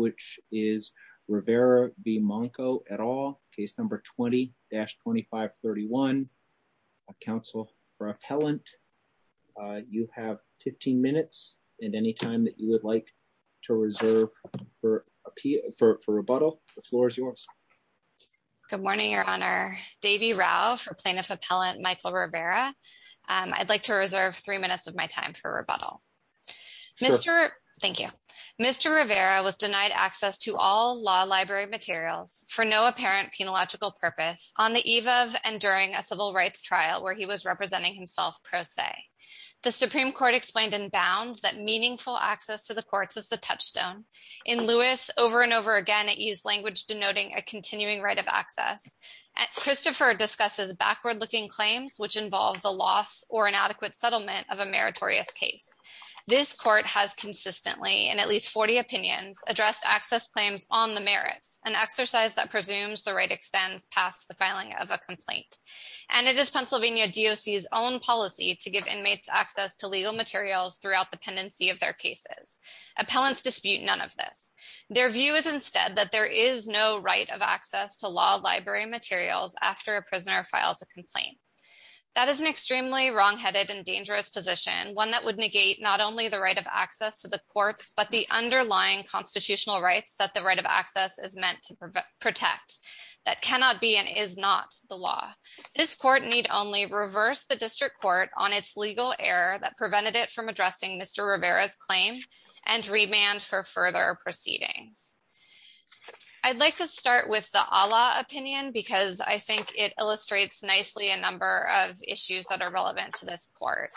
which is Rivera v. Monko et al., case number 20-2531, a counsel for appellant. You have 15 minutes, and any time that you would like to reserve for rebuttal, the floor is yours. Good morning, Your Honor. Devi Rao for plaintiff appellant Michael Rivera. I'd like to reserve three minutes of my time for rebuttal. Sure. Thank you. Mr. Rivera was denied access to all law library materials for no apparent penological purpose on the eve of and during a civil rights trial where he was representing himself pro se. The Supreme Court explained in bounds that meaningful access to the courts is the touchstone. In Lewis, over and over again it used language denoting a continuing right of access. Christopher discusses backward-looking claims which involve the loss or inadequate settlement of a meritorious case. This court has consistently, in at least 40 opinions, addressed access claims on the merits, an exercise that presumes the right extends past the filing of a complaint. And it is Pennsylvania DOC's own policy to give inmates access to legal materials throughout the pendency of their cases. Appellants dispute none of this. Their view is instead that there is no right of access to law library materials after a prisoner files a complaint. That is an extremely wrongheaded and dangerous position, one that would negate not only the right of access to the courts, but the underlying constitutional rights that the right of access is meant to protect that cannot be and is not the law. This court need only reverse the district court on its legal error that prevented it from addressing Mr. Rivera's claim and remand for further proceedings. I'd like to start with the Allah opinion because I think it illustrates nicely a number of issues that are relevant to this court.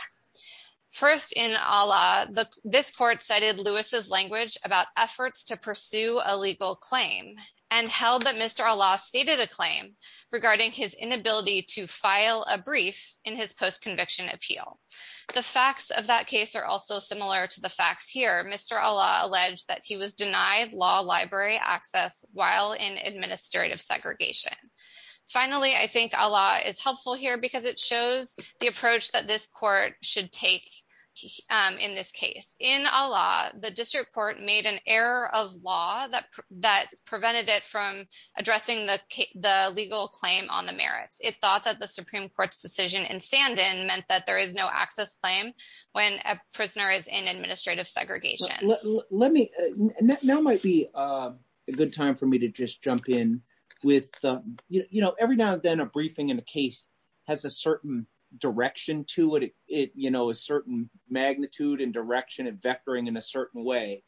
First in Allah, this court cited Lewis's language about efforts to pursue a legal claim and held that Mr. Allah stated a claim regarding his inability to file a brief in his post-conviction appeal. The facts of that case are also similar to the facts here. Mr. Allah alleged that he was denied law library access while in administrative segregation. Finally, I think Allah is helpful here because it shows the approach that this court should take in this case. In Allah, the district court made an error of law that prevented it from addressing the legal claim on the merits. It thought that the Supreme Court's decision in Sandin meant that there is no access claim when a prisoner is in administrative segregation. Let me, now might be a good time for me to just jump in with, you know, every now and then a briefing in a case has a certain direction to it, you know, a certain magnitude and direction and vectoring in a certain way.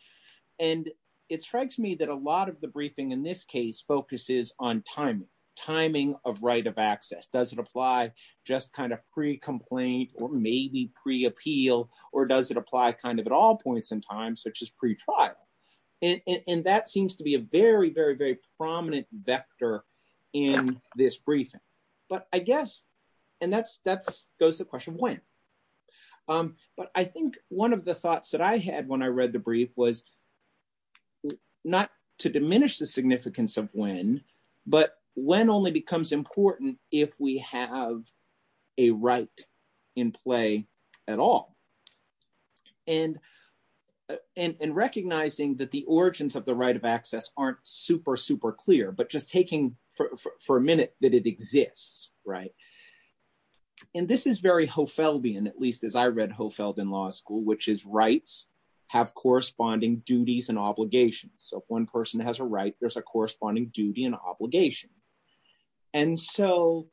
And it strikes me that a lot of the briefing in this case focuses on timing, timing of right of access. Does it apply just kind of pre-complaint or maybe pre-appeal, or does it apply kind of at all points in time, such as pre-trial? And that seems to be a very, very, very prominent vector in this briefing. But I guess, and that goes to the question of when. But I think one of the thoughts that I had when I read the brief was not to diminish the significance of when, but when only becomes important if we have a right in play at all. And in recognizing that the origins of the right of access aren't super, super clear, but just taking for a minute that it exists, right? And this is very Hofeldian, at least as I read Hofeld in law school, which is rights have corresponding duties and obligations. So if one person has a right, there's a corresponding duty and obligation. And so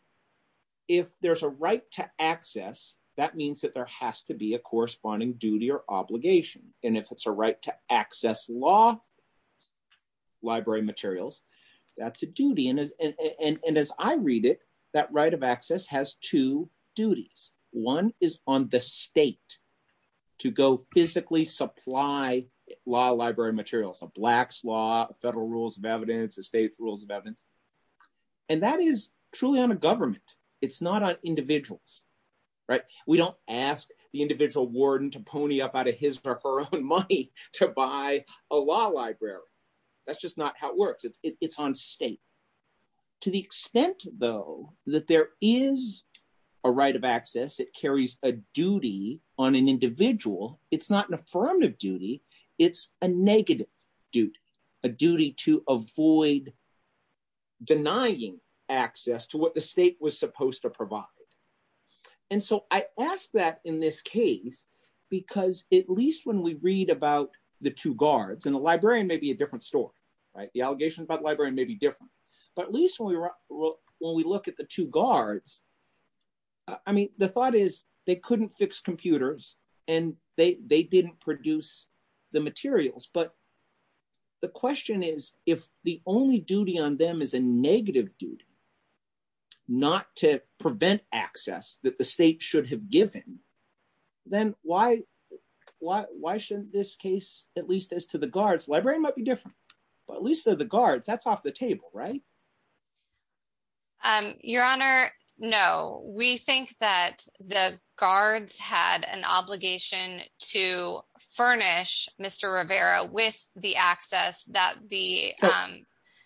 if there's a right to access, that means that there has to be a corresponding duty or obligation. And if it's a right to access law, library materials, that's a duty. And as I read it, that right of access has two duties. One is on the state to go physically supply law library materials, a black's law, federal rules of evidence, the state's rules of evidence. And that is truly on a government. It's not on individuals. Right. We don't ask the individual warden to pony up out of his or her own money to buy a law library. That's just not how it works. It's on state. To the extent, though, that there is a right of access, it carries a duty on an individual, it's not an affirmative duty, it's a negative duty, a duty to avoid. Denying access to what the state was supposed to provide, and so I ask that in this case, because at least when we read about the two guards and the librarian, maybe a different, but at least when we look at the two guards, I mean, the thought is they couldn't fix computers and they didn't produce the materials. But the question is, if the only duty on them is a negative duty, not to prevent access that the state should have given, then why shouldn't this case, at least as to the guards, librarian might be different, but at least the guards, that's off the table, right? Your Honor, no, we think that the guards had an obligation to furnish Mr. Rivera with the access that the.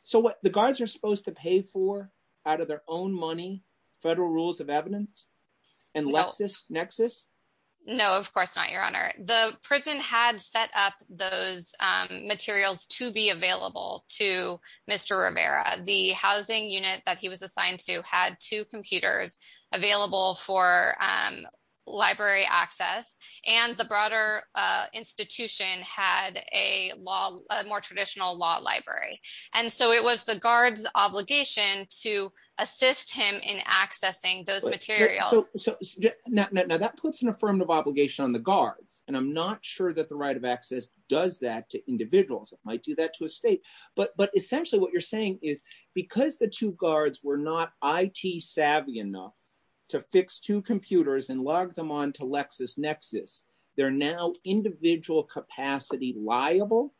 So what the guards are supposed to pay for out of their own money, federal rules of evidence and lexus, nexus? No, of course not, Your Honor. The prison had set up those materials to be available to Mr. Rivera. The housing unit that he was assigned to had two computers available for library access, and the broader institution had a law, a more traditional law library. And so it was the guards obligation to assist him in accessing those materials. So now that puts an affirmative obligation on the guards, and I'm not sure that the right of access does that to individuals. It might do that to a state. But but essentially what you're saying is because the two guards were not IT savvy enough to fix two computers and log them on to LexisNexis, they're now individual capacity liable?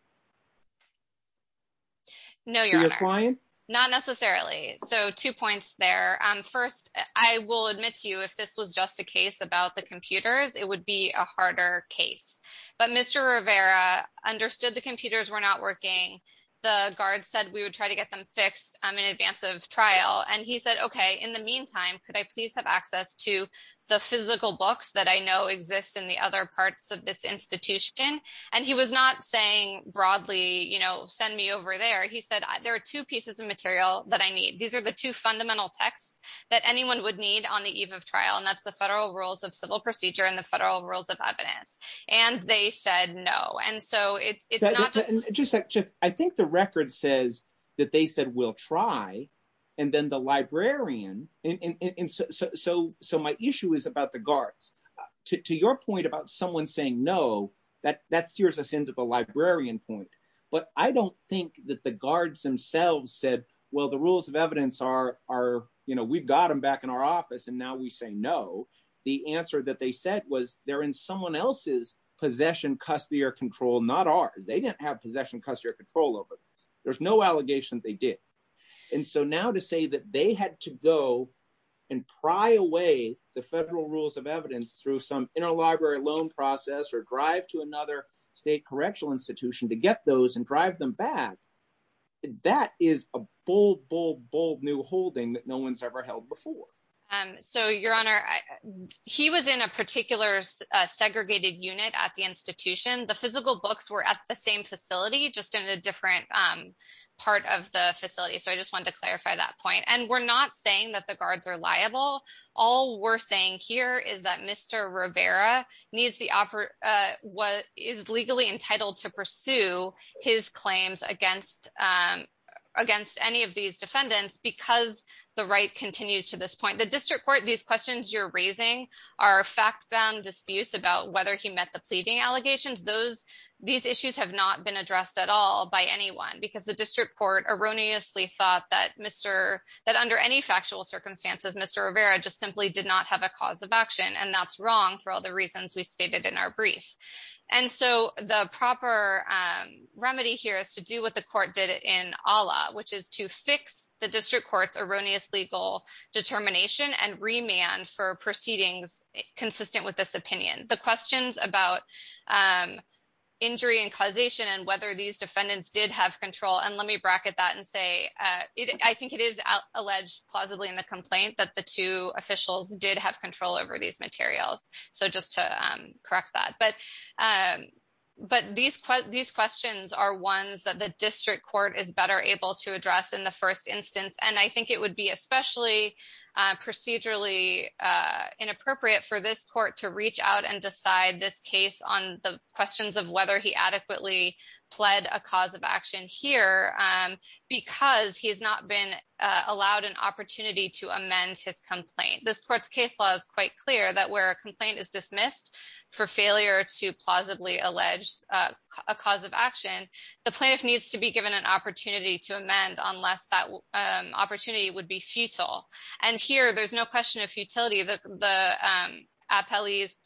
No, Your Honor, not necessarily. So two points there. First, I will admit to you, if this was just a case about the computers, it would be a harder case. But Mr. Rivera understood the computers were not working. The guards said we would try to get them fixed in advance of trial. And he said, OK, in the meantime, could I please have access to the physical books that I know exist in the other parts of this institution? And he was not saying broadly, you know, send me over there. He said there are two pieces of material that I need. These are the two fundamental texts that anyone would need on the eve of trial. And that's the federal rules of civil procedure and the federal rules of evidence. And they said no. And so it's not just I think the record says that they said we'll try. And then the librarian. And so so so my issue is about the guards. To your point about someone saying no, that that steers us into the librarian point. But I don't think that the guards themselves said, well, the rules of evidence are, you know, we've got them back in our office and now we say no. The answer that they said was they're in someone else's possession, custody or control, not ours. They didn't have possession, custody or control over. There's no allegation they did. And so now to say that they had to go and pry away the federal rules of evidence through some interlibrary loan process or drive to another state correctional office to get those and drive them back, that is a bold, bold, bold new holding that no one's ever held before. So, Your Honor, he was in a particular segregated unit at the institution. The physical books were at the same facility, just in a different part of the facility. So I just want to clarify that point. And we're not saying that the guards are liable. All we're saying here is that Mr. Rivera needs the what is legally entitled to pursue his claims against against any of these defendants because the right continues to this point. The district court, these questions you're raising are fact bound disputes about whether he met the pleading allegations. Those these issues have not been addressed at all by anyone because the district court erroneously thought that Mr. that under any factual circumstances, Mr. Rivera just simply did not have a cause of action. And that's wrong for all the reasons we stated in our brief. And so the proper remedy here is to do what the court did in Allah, which is to fix the district court's erroneous legal determination and remand for proceedings consistent with this opinion. The questions about injury and causation and whether these defendants did have control. And let me bracket that and say I think it is alleged plausibly in the complaint that the two officials did have control over these materials. So just to correct that, but but these these questions are ones that the district court is better able to address in the first instance. And I think it would be especially procedurally inappropriate for this court to reach out and decide this case on the questions of whether he adequately pled a cause of action here because he has not been allowed an opportunity to amend his complaint. This court's case law is quite clear that where a complaint is dismissed for failure to plausibly allege a cause of action, the plaintiff needs to be given an opportunity to amend unless that opportunity would be futile. And here there's no question of futility that the appellees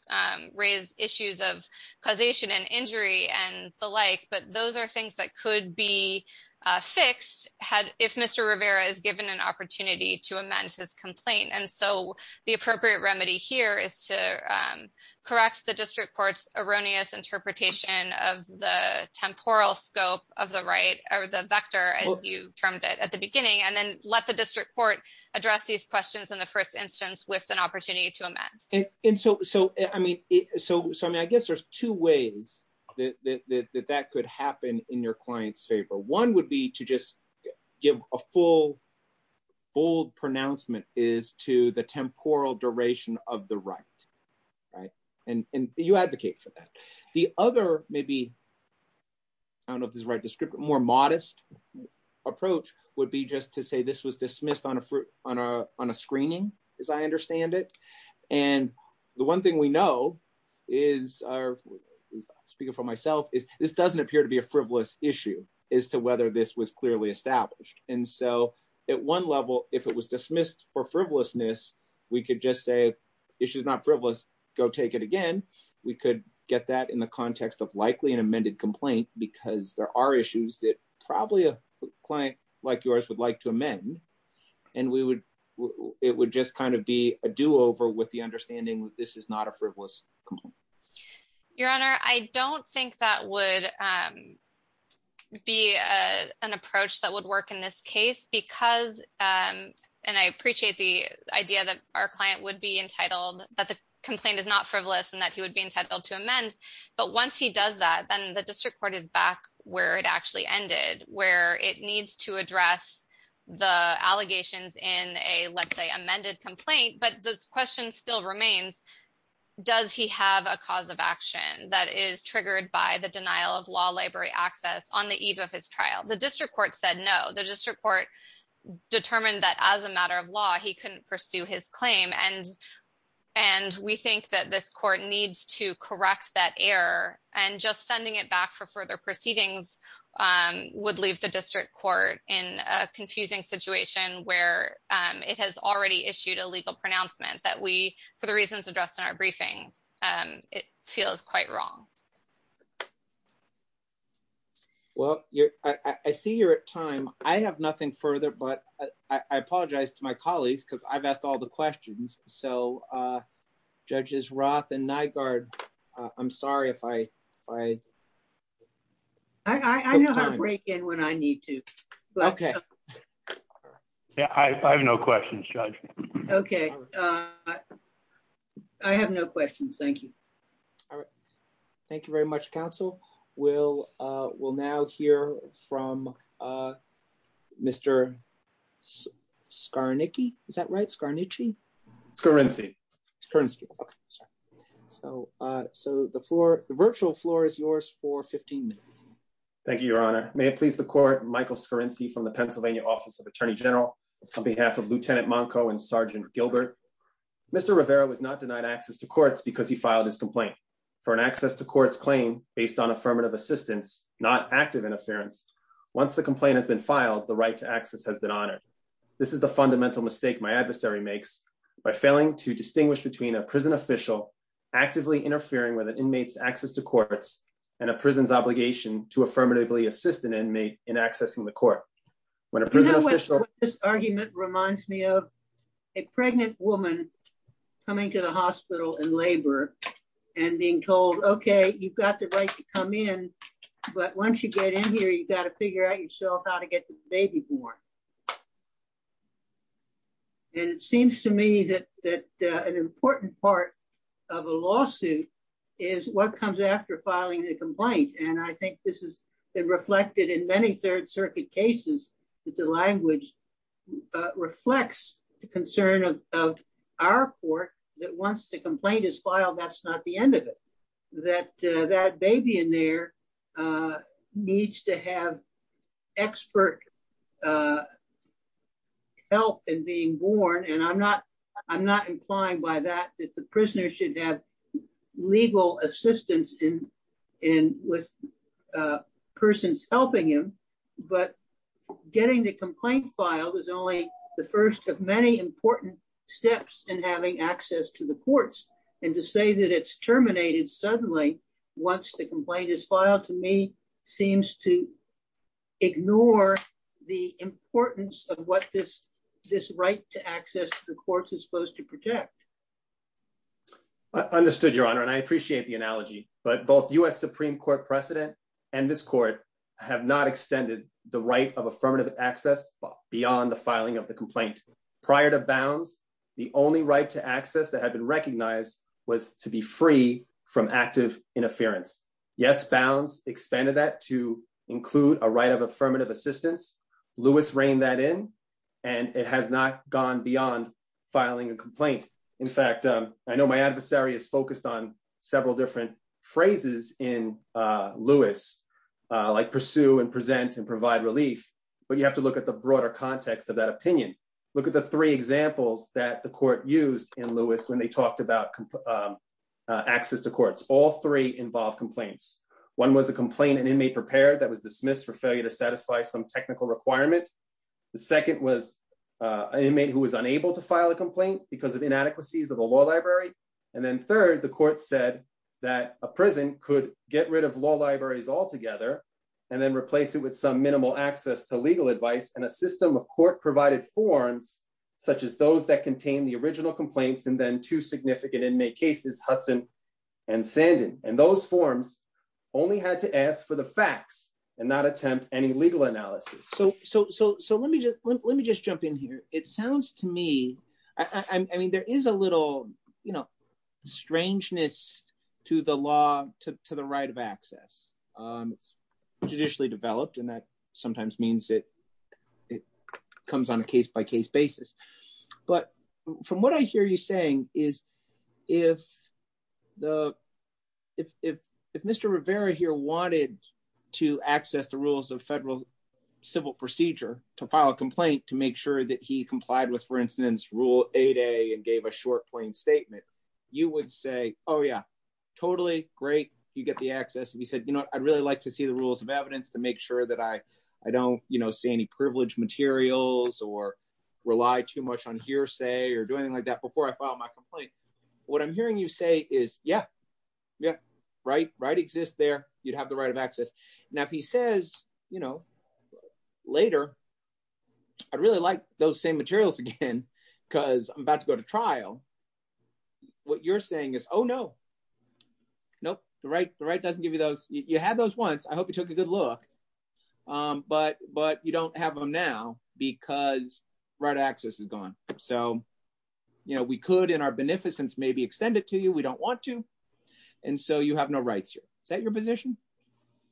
raise issues of causation and the like. But those are things that could be fixed had if Mr. Rivera is given an opportunity to amend his complaint. And so the appropriate remedy here is to correct the district court's erroneous interpretation of the temporal scope of the right or the vector, as you termed it at the beginning, and then let the district court address these questions in the first instance with an opportunity to amend. And so I mean, so I mean, I guess there's two ways that that could happen in your client's favor. One would be to just give a full, bold pronouncement is to the temporal duration of the right. Right. And you advocate for that. The other maybe. I don't know if this is the right description, more modest approach would be just to say this was dismissed on a on a on a screening, as I understand it. And the one thing we know is speaking for myself is this doesn't appear to be a frivolous issue as to whether this was clearly established. And so at one level, if it was dismissed for frivolousness, we could just say issues not frivolous. Go take it again. We could get that in the context of likely an amended complaint, because there are issues that probably a client like yours would like to amend. And we would it would just kind of be a do over with the understanding that this is not a frivolous complaint. Your Honor, I don't think that would be an approach that would work in this case because and I appreciate the idea that our client would be entitled that the complaint is not frivolous and that he would be entitled to amend. But once he does that, then the district court is back where it actually ended, where it I think that it would just be a do over with the allegations in a, let's say, amended complaint. But the question still remains, does he have a cause of action that is triggered by the denial of law library access on the eve of his trial? The district court said no. The district court determined that as a matter of law, he couldn't pursue his claim. And and we think that this court needs to correct that error and just sending it back for further proceedings would leave the district court in a confusing situation where it has already issued a legal pronouncement that we, for the reasons addressed in our briefing, it feels quite wrong. Well, I see you're at time, I have nothing further, but I apologize to my colleagues because I've asked all the questions, so judges Roth and Nygaard, I'm sorry if I I. I know how to break in when I need to, but OK, I have no questions, judge. OK, I have no questions. Thank you. All right. Thank you very much, counsel. We'll we'll now hear from Mr. Skarnicky, is that right? Skarnicky. Skarnicky. So so the floor, the virtual floor is yours for 15 minutes. Thank you, Your Honor. May it please the court. Michael Skarnicky from the Pennsylvania Office of Attorney General, on behalf of Lieutenant Monko and Sergeant Gilbert. Mr. Rivera was not denied access to courts because he filed his complaint for an access to court's claim based on affirmative assistance, not active interference. Once the complaint has been filed, the right to access has been honored. This is the fundamental mistake my adversary makes by failing to distinguish between a prison official actively interfering with an inmate's access to courts and a prison's obligation to affirmatively assist an inmate in accessing the court. When a prison official. This argument reminds me of a pregnant woman coming to the hospital and labor and being told, OK, you've got the right to come in, but once you get in here, you've got to figure out yourself how to get the baby born. And it seems to me that that an important part of a lawsuit is what comes after filing the complaint. And I think this has been reflected in many Third Circuit cases that the language reflects the concern of our court that once the complaint is filed, that's not the end of it, that that baby in there needs to have expert help in being born. And I'm not I'm not inclined by that, that the prisoner should have legal assistance in with persons helping him. But getting the complaint filed is only the first of many important steps in having access to the courts. And to say that it's terminated suddenly once the complaint is filed, to me, seems to ignore the importance of what this this right to access to the courts is supposed to protect. I understood, Your Honor, and I appreciate the analogy, but both U.S. Supreme Court precedent and this court have not extended the right of affirmative access beyond the filing of the complaint. Prior to Bounds, the only right to access that had been recognized was to be free from active interference. Yes, Bounds expanded that to include a right of affirmative assistance. Lewis reigned that in and it has not gone beyond filing a complaint. In fact, I know my adversary is focused on several different phrases in Lewis, like pursue and present and provide relief. But you have to look at the broader context of that opinion. Look at the three examples that the court used in Lewis when they talked about access to courts. All three involve complaints. One was a complaint, an inmate prepared that was dismissed for failure to satisfy some technical requirement. The second was an inmate who was unable to file a complaint because of inadequacies of the law library. And then third, the court said that a prison could get rid of law libraries altogether and then replace it with some minimal access to legal advice. And a system of court provided forms such as those that contain the original complaints and then two significant inmate cases, Hudson and Sandin. And those forms only had to ask for the facts and not attempt any legal analysis. So so so let me just let me just jump in here. It sounds to me I mean, there is a little, you know, strangeness to the law, to the right of access. It's judicially developed and that sometimes means it it comes on a case by case basis. But from what I hear you saying is if the if if if Mr. Rivera here wanted to access the rules of federal civil procedure to file a complaint, to make sure that he complied with, for instance, Rule 8a and gave a short, plain statement, you would say, oh, yeah, totally great. You get the access. And he said, you know, I'd really like to see the rules of evidence to make sure that I I don't, you know, see any privileged materials or rely too much on hearsay or doing like that before I file my complaint. What I'm hearing you say is, yeah, yeah. Right. Right. Exists there. You'd have the right of access. Now, if he says, you know, later, I'd really like those same materials again because I'm about to go to trial. What you're saying is, oh, no, no, the right, the right doesn't give you those. You had those once. I hope you took a good look, but but you don't have them now because right access is gone. So, you know, we could in our beneficence maybe extend it to you. We don't want to. And so you have no rights here. Is that your position?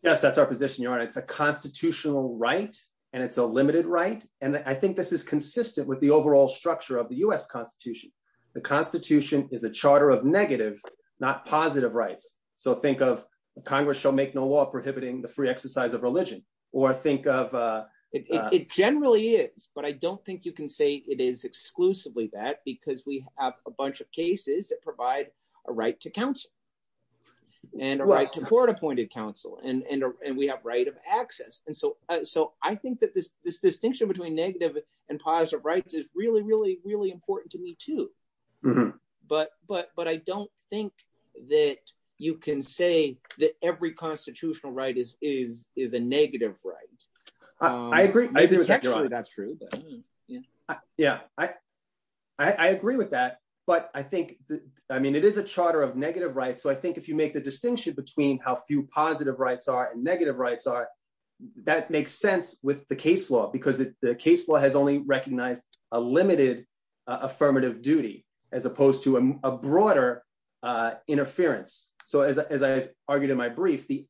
Yes, that's our position. You know, it's a constitutional right and it's a limited right. And I think this is consistent with the overall structure of the U.S. constitution. The constitution is a charter of negative, not positive rights. So think of Congress shall make no law prohibiting the free exercise of religion or think of it generally is. But I don't think you can say it is exclusively that because we have a bunch of cases that provide a right to counsel and a right to court appointed counsel and we have right of access. And so so I think that this this distinction between negative and positive rights is really, really, really important to me, too. But but but I don't think that you can say that every constitutional right is is is a negative right. I agree. That's true. Yeah. Yeah. I I agree with that. But I think I mean, it is a charter of negative rights. So I think if you make the distinction between how few positive rights are and negative rights are, that makes sense with the case law, because the case law has only recognized a limited affirmative duty as opposed to a broader interference. So as I argued in my brief, the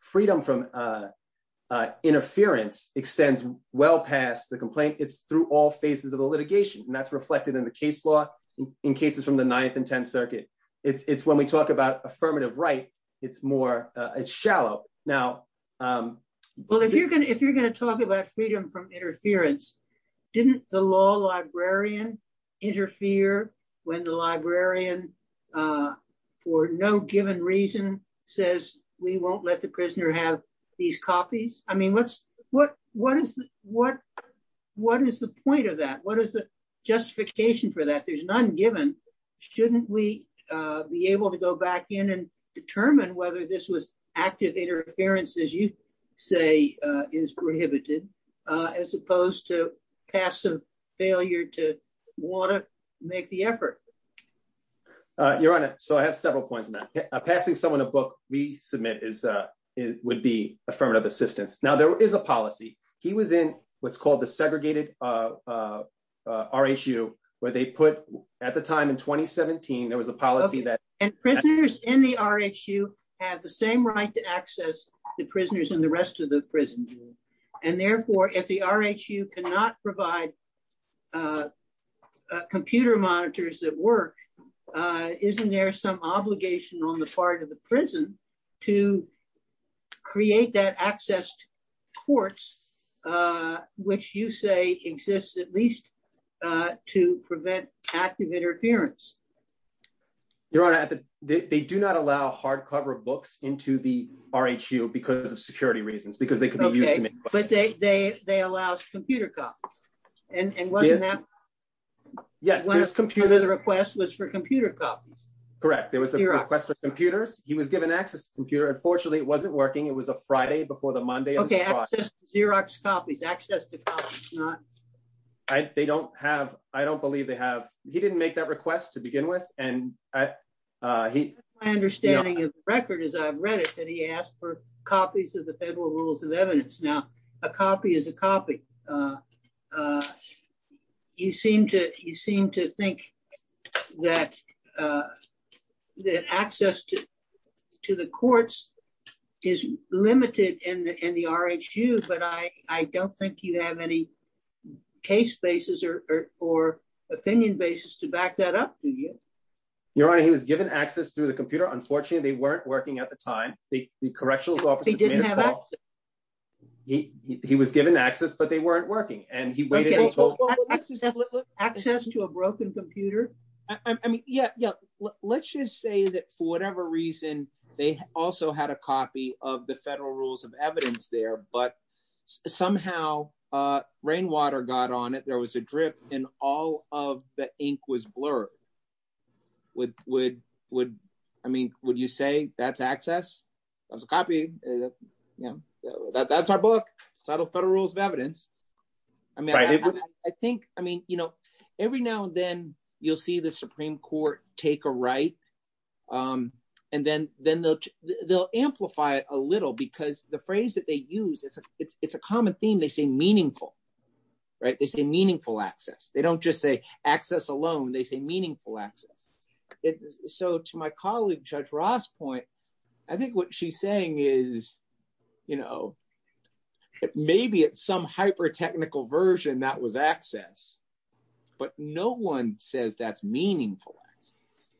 freedom from interference extends well past the complaint. It's through all phases of the litigation. And that's reflected in the case law in cases from the ninth and 10th Circuit. It's when we talk about affirmative right. It's more shallow now. Well, if you're going to if you're going to talk about freedom from interference, didn't the law librarian interfere when the librarian, for no given reason, says we won't let the prisoner have these copies? I mean, what's what what is what what is the point of that? What is the justification for that? There's none given. Shouldn't we be able to go back in and determine whether this was active interference, as you say, is prohibited, as opposed to passive failure to want to make the effort? Your Honor, so I have several points on that. Passing someone a book we submit is it would be affirmative assistance. Now, there is a policy. He was in what's called the segregated RSU, where they put at the time in 2017, there was a policy that. And prisoners in the RSU have the same right to access the prisoners in the rest of the prison. And therefore, if the RSU cannot provide computer monitors that work, isn't there some obligation on the part of the prison to create that access to courts, which you say exists at least to prevent active interference? Your Honor, they do not allow hardcover books into the RSU because of security reasons, because they could be used to make requests. But they allow computer copies. And wasn't that one of the requests was for computer copies? Correct. There was a request for computers. He was given access to computer. Unfortunately, it wasn't working. It was a Friday before the Monday. Okay. Xerox copies, access to copies. They don't have. I don't believe they have. He didn't make that request to begin with. And my understanding of the record is I've read it that he asked for copies of the Federal Rules of Evidence. Now, a copy is a copy. And you seem to think that the access to the courts is limited in the RSU. But I don't think you have any case basis or opinion basis to back that up, do you? Your Honor, he was given access through the computer. Unfortunately, they weren't working at the time. The correctional office didn't have access. He was given access, but they weren't working. Okay. Access to a broken computer? I mean, yeah. Let's just say that for whatever reason, they also had a copy of the Federal Rules of Evidence there. But somehow, rainwater got on it. There was a drip and all of the ink was blurred. I mean, would you say that's access? That's a copy. That's our book. It's titled Federal Rules of Evidence. Every now and then, you'll see the Supreme Court take a right. And then they'll amplify it a little because the phrase that they use, it's a common theme. They say meaningful. They say meaningful access. They don't just say access alone. They say meaningful access. So to my colleague, Judge Ross' point, I think what she's saying is, you know, maybe it's some hyper-technical version that was access, but no one says that's meaningful access,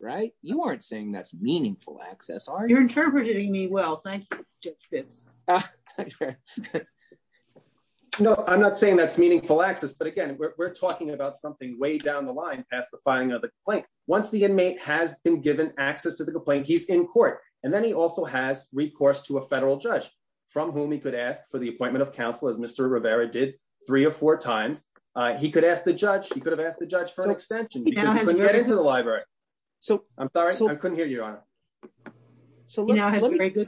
right? You aren't saying that's meaningful access, are you? You're interpreting me well. Thank you, Judge Fitz. No, I'm not saying that's meaningful access, but again, we're talking about something way down the line past the filing of the complaint. Once the inmate has been given access to the complaint, he's in court. And then he also has recourse to a federal judge from whom he could ask for the appointment of counsel, as Mr. Rivera did three or four times. He could have asked the judge for an extension because he couldn't get into the library. I'm sorry, I couldn't hear you, Your Honor. So let me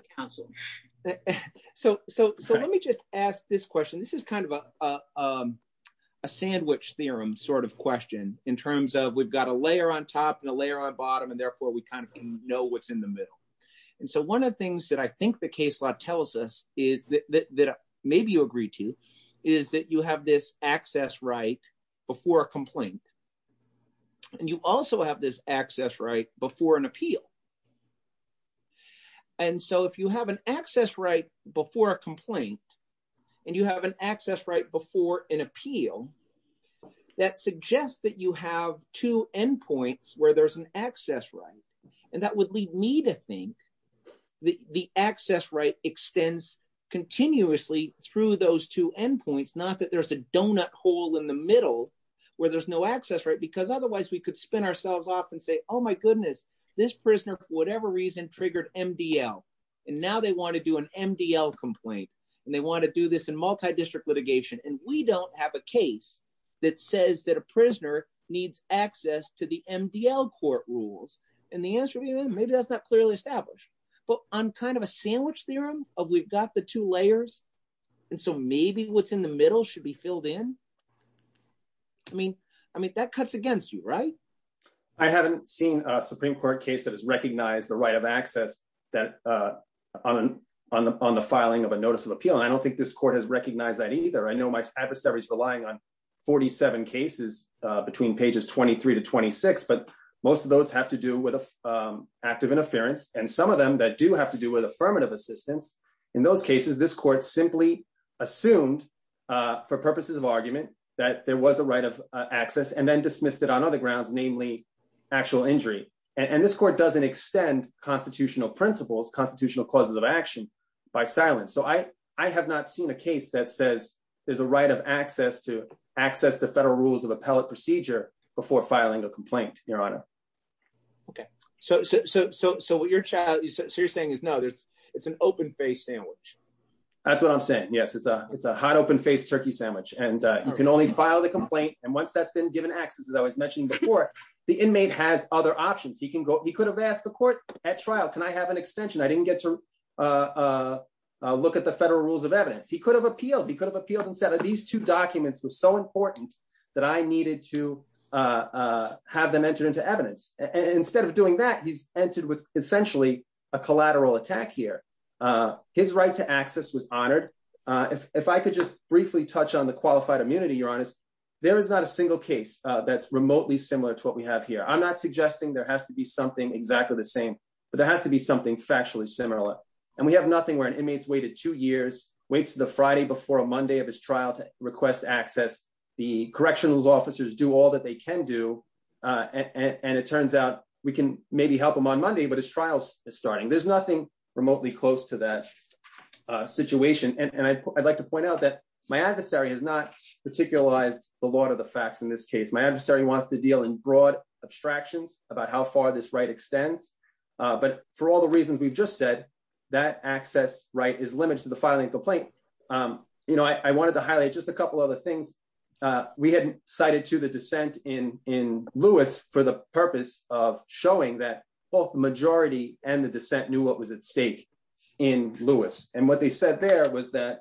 just ask this question. This is kind of a sandwich theorem sort of question in terms of we've got a layer on top and a layer on bottom, and therefore we kind of know what's in the middle. And so one of the things that I think the case law tells us is that maybe you agree to is that you have this access right before a complaint, and you also have this access right before an appeal. And so if you have an access right before a complaint and you have an access right before an appeal, that suggests that you have two endpoints where there's an access right. And that would lead me to think that the access right extends continuously through those two endpoints, not that there's a donut hole in the middle where there's no access right, because otherwise we could spin ourselves off and say, oh my goodness, this prisoner, for whatever reason, triggered MDL. And now they want to do an MDL complaint. And they want to do this in multi-district litigation. And we don't have a case that says that a prisoner needs access to the MDL court rules. And the answer would be, maybe that's not clearly established. But on kind of a sandwich theorem of we've got the two layers, and so maybe what's in the middle should be filled in. I mean, that cuts against you, right? I haven't seen a Supreme Court case that has recognized the right of access on the filing of a notice of appeal. And I don't think this court has recognized that either. I know my adversaries are relying on 47 cases between pages 23 to 26. But most of those have to do with active interference. And some of them that do have to do with affirmative assistance. In those cases, this court simply assumed for purposes of argument that there was a right of access and then dismissed it on other grounds, namely actual injury. And this court doesn't extend constitutional principles, constitutional clauses of action by silence. I have not seen a case that says there's a right of access to access the federal rules of appellate procedure before filing a complaint, Your Honor. Okay, so what you're saying is, no, it's an open-faced sandwich. That's what I'm saying. Yes, it's a hot open-faced turkey sandwich. And you can only file the complaint. And once that's been given access, as I was mentioning before, the inmate has other options. He could have asked the court at trial, can I have an extension? I didn't get to look at the federal rules of evidence. He could have appealed. He could have appealed and said these two documents were so important that I needed to have them entered into evidence. Instead of doing that, he's entered with essentially a collateral attack here. His right to access was honored. If I could just briefly touch on the qualified immunity, Your Honor, there is not a single case that's remotely similar to what we have here. I'm not suggesting there has to be something exactly the same, but there has to be something factually similar. And we have nothing where an inmate's waited two years, waits to the Friday before a Monday of his trial to request access. The correctional officers do all that they can do. And it turns out we can maybe help him on Monday, but his trial is starting. There's nothing remotely close to that situation. And I'd like to point out that my adversary has not particularized a lot of the facts in this case. My adversary wants to deal in broad abstractions about how far this right extends. But for all the reasons we've just said, that access right is limited to the filing complaint. I wanted to highlight just a couple other things. We hadn't cited to the dissent in Lewis for the purpose of showing that both the majority and the dissent knew what was at stake in Lewis. And what they said there was that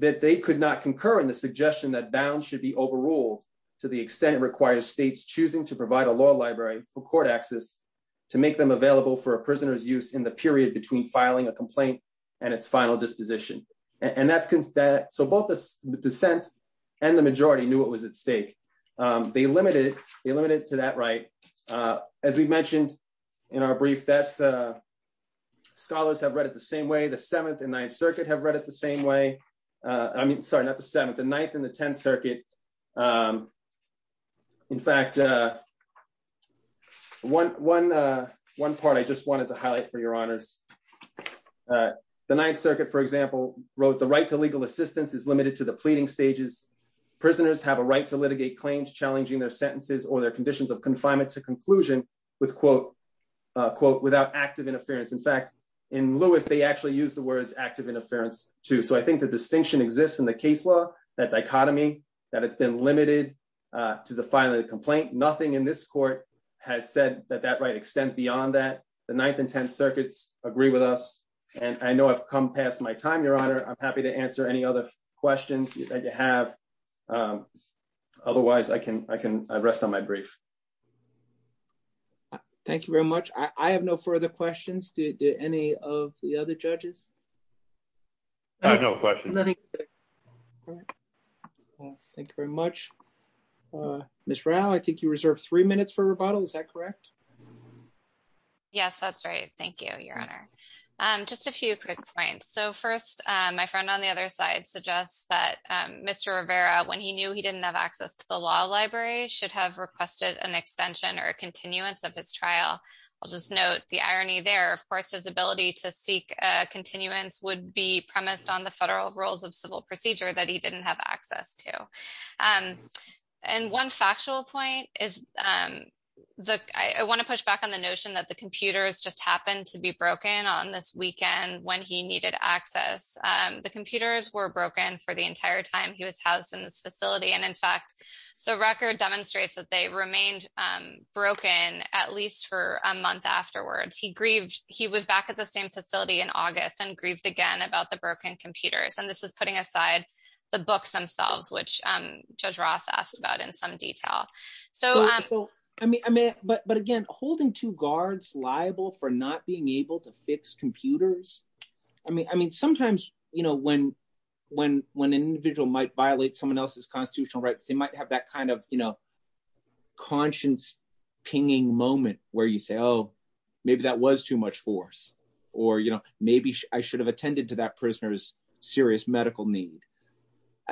they could not concur in the suggestion that bounds should be overruled to the extent it requires states choosing to provide a law library for court access to make them available for a prisoner's use in the period between filing a complaint and its final disposition. So both the dissent and the majority knew what was at stake. They limited it to that right. As we mentioned in our brief that scholars have read it the same way, the 7th and 9th Circuit have read it the same way. I mean, sorry, not the 7th, the 9th and the 10th Circuit. In fact, one part I just wanted to highlight for your honors. The 9th Circuit, for example, wrote the right to legal assistance is limited to the pleading stages. Prisoners have a right to litigate claims challenging their sentences or their conditions of confinement to conclusion with, quote, quote, without active interference. In fact, in Lewis, they actually use the words active interference too. So I think the distinction exists in the case law, that dichotomy, that it's been limited to the filing of the complaint. Nothing in this court has said that that right extends beyond that. The 9th and 10th Circuits agree with us. And I know I've come past my time, your honor. I'm happy to answer any other questions that you have. Otherwise, I can rest on my brief. Thank you very much. I have no further questions. Do any of the other judges? I have no questions. Nothing. Thank you very much. Ms. Rao, I think you reserved three minutes for rebuttal. Is that correct? Yes, that's right. Thank you, your honor. Just a few quick points. So first, my friend on the other side suggests that Mr. Rivera, when he knew he didn't have access to the law library, should have requested an extension or a continuance of his trial. I'll just note the irony there. Of course, his ability to seek continuance would be premised on the federal rules of civil procedure that he didn't have access to. And one factual point is, I want to push back on the notion that the computers just happened to be broken on this weekend when he needed access. The computers were broken for the entire time he was housed in this facility. And in fact, the record demonstrates that they remained broken at least for a month afterwards. He grieved. He was back at the same facility in August and grieved again about the broken computers. And this is putting aside the books themselves, which Judge Roth asked about in some detail. So I mean, but again, holding two guards liable for not being able to fix computers. I mean, sometimes, you know, when an individual might violate someone else's constitutional rights, they might have that kind of, you know, conscience pinging moment where you say, oh, maybe that was too much force. Or, you know, maybe I should have attended to that prisoner's serious medical need.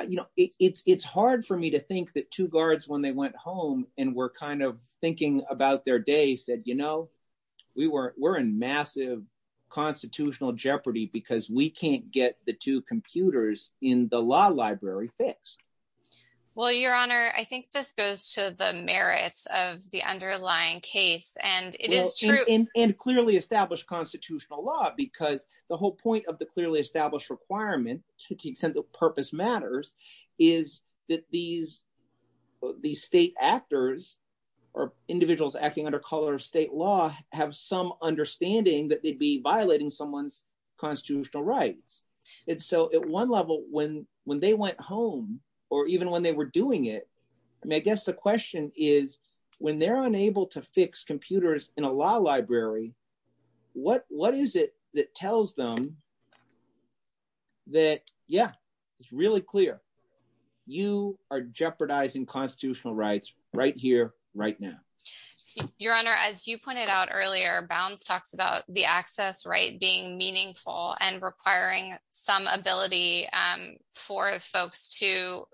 You know, it's hard for me to think that two guards when they went home and were kind of thinking about their day said, you know, we were in massive constitutional jeopardy because we can't get the two computers in the law library fixed. Well, Your Honor, I think this goes to the merits of the underlying case. And it is true. And clearly established constitutional law, because the whole point of the clearly established requirement to the extent the purpose matters is that these state actors or individuals acting under color state law have some understanding that they'd be violating someone's constitutional rights. And so at one level, when they went home, or even when they were doing it, I mean, I guess the question is, when they're unable to fix computers in a law library, what is it that tells them that? Yeah, it's really clear. You are jeopardizing constitutional rights right here, right now. Your Honor, as you pointed out earlier, Bounds talks about the access right being meaningful and requiring some ability for folks to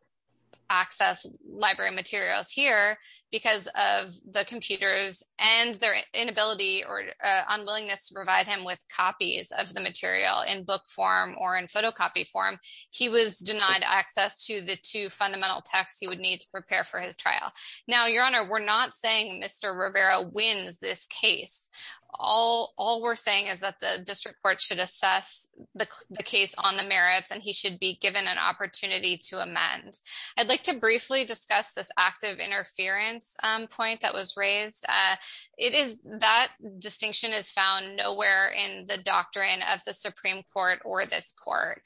access library materials here, because of the computers and their inability or unwillingness to provide him with copies of the material in book form or in photocopy form. He was denied access to the two fundamental texts he would need to prepare for his trial. Now, Your Honor, we're not saying Mr. Rivera wins this case. All we're saying is that the district court should assess the case on the merits, and he should be given an opportunity to amend. I'd like to briefly discuss this active interference point that was raised. That distinction is found nowhere in the doctrine of the Supreme Court or this court.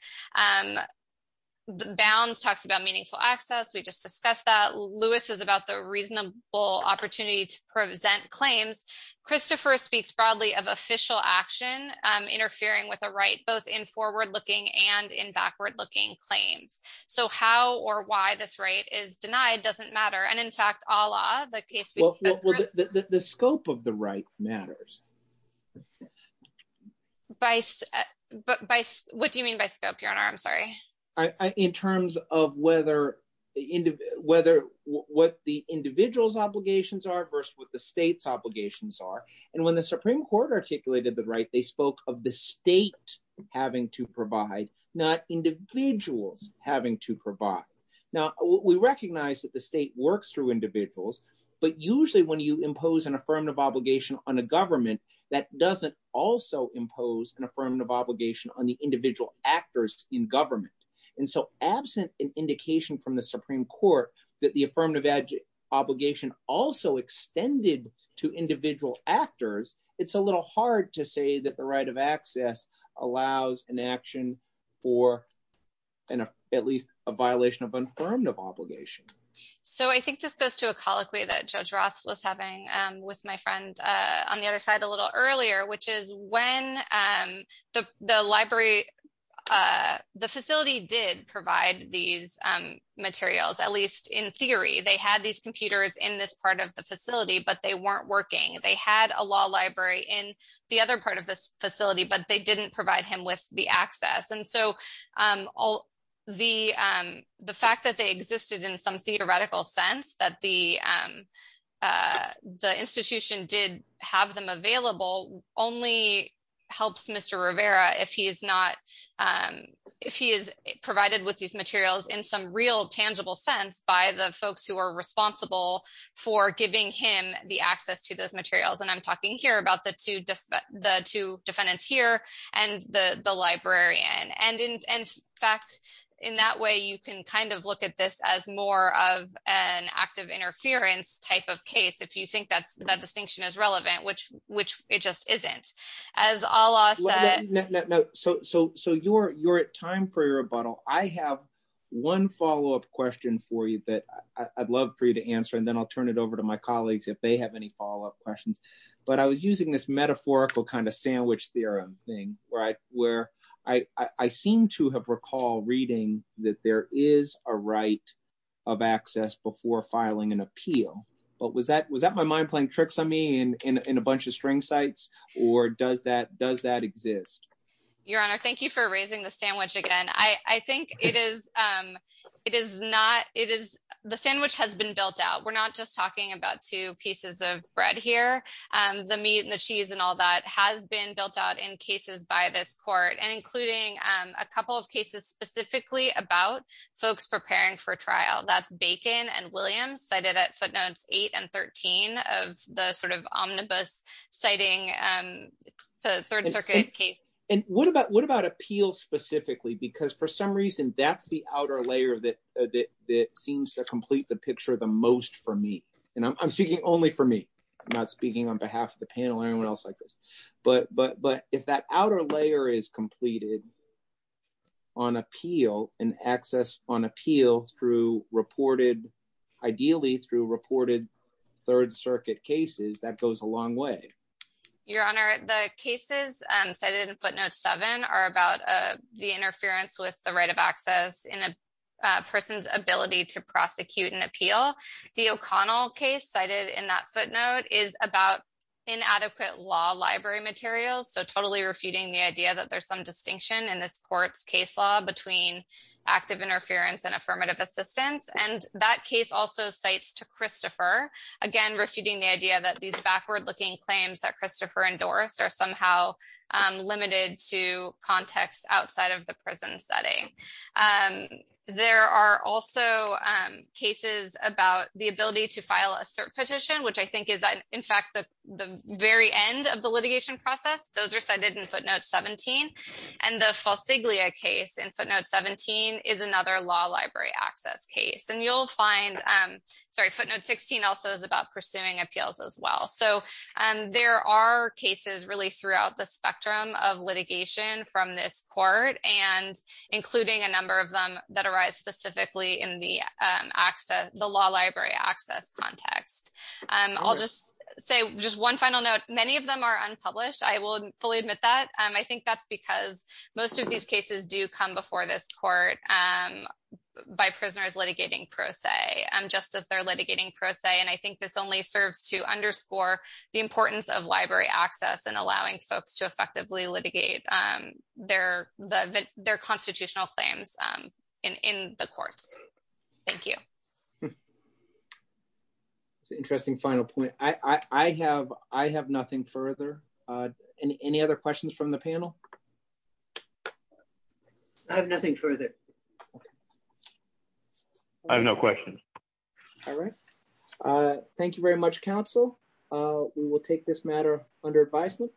Bounds talks about meaningful access. We just discussed that. Lewis is about the reasonable opportunity to present claims. Christopher speaks broadly of official action, interfering with a right, both in forward-looking and in backward-looking claims. How or why this right is denied doesn't matter, and in fact, a la the case we discussed earlier. The scope of the right matters. What do you mean by scope, Your Honor? I'm sorry. In terms of whether what the individual's obligations are versus what the state's obligations are. When the Supreme Court articulated the right, they spoke of the state having to provide, not individuals having to provide. Now, we recognize that the state works through individuals, but usually when you impose an affirmative obligation on a government, that doesn't also impose an affirmative obligation on the individual actors in government. And so absent an indication from the Supreme Court that the affirmative obligation also extended to individual actors, it's a little hard to say that the right of access allows an action for at least a violation of affirmative obligation. So I think this goes to a colloquy that Judge Roth was having with my friend on the other side a little earlier, which is when the facility did provide these materials, at least in theory, they had these computers in this part of the facility, but they weren't working. They had a law library in the other part of this facility, but they didn't provide him with the access. And so the fact that they existed in some theoretical sense that the institution did have them available only helps Mr. Rivera if he is not, if he is provided with these materials in some real tangible sense by the folks who are responsible for giving him the access to those materials. And I'm talking here about the two defendants here and the librarian. And in fact, in that way, you can kind of look at this as more of an active interference type of case if you think that distinction is relevant, which it just isn't. As Allah said- No, so you're at time for your rebuttal. I have one follow-up question for you that I'd love for you to answer, and then I'll turn it over to my colleagues if they have any follow-up questions. But I was using this metaphorical kind of sandwich theorem thing, where I seem to have recalled reading that there is a right of access before filing an appeal. But was that my mind playing tricks on me in a bunch of string sites, or does that exist? Your Honor, thank you for raising the sandwich again. I think it is not... The sandwich has been built out. We're not just talking about two pieces of bread here. The meat and the cheese and all that has been built out in cases by this court, and including a couple of cases specifically about folks preparing for trial. That's Bacon and Williams, cited at footnotes eight and 13 of the sort of omnibus citing the Third Circuit case. And what about appeals specifically? Because for some reason, that's the outer layer that seems to complete the picture the most for me. And I'm speaking only for me. I'm not speaking on behalf of the panel or anyone else like this. But if that outer layer is completed on appeal and access on appeal through reported, ideally through reported Third Circuit cases, that goes a long way. Your Honor, the cases cited in footnotes seven are about the interference with the right of access in a person's ability to prosecute an appeal. The O'Connell case cited in that footnote is about inadequate law library materials. So totally refuting the idea that there's some distinction in this court's case law between active interference and affirmative assistance. And that case also cites to Christopher, again, refuting the idea that these backward-looking claims that Christopher endorsed are somehow limited to context outside of the prison setting. There are also cases about the ability to file a cert petition, which I think is in fact the very end of the litigation process. Those are cited in footnote 17. And the Falsiglia case in footnote 17 is another law library access case. And you'll find, sorry, footnote 16 also is about pursuing appeals as well. So there are cases really throughout the spectrum of litigation from this court and including a number of them that arise specifically in the access, the law library access context. I'll just say just one final note. Many of them are unpublished. I will fully admit that. I think that's because most of these cases do come before this court by prisoners litigating pro se just as they're litigating pro se. And I think this only serves to underscore the importance of library access and allowing folks to effectively litigate their constitutional claims in the courts. Thank you. That's an interesting final point. I have nothing further. Any other questions from the panel? I have nothing further. I have no questions. All right. Thank you very much, counsel. We will take this matter under advisement.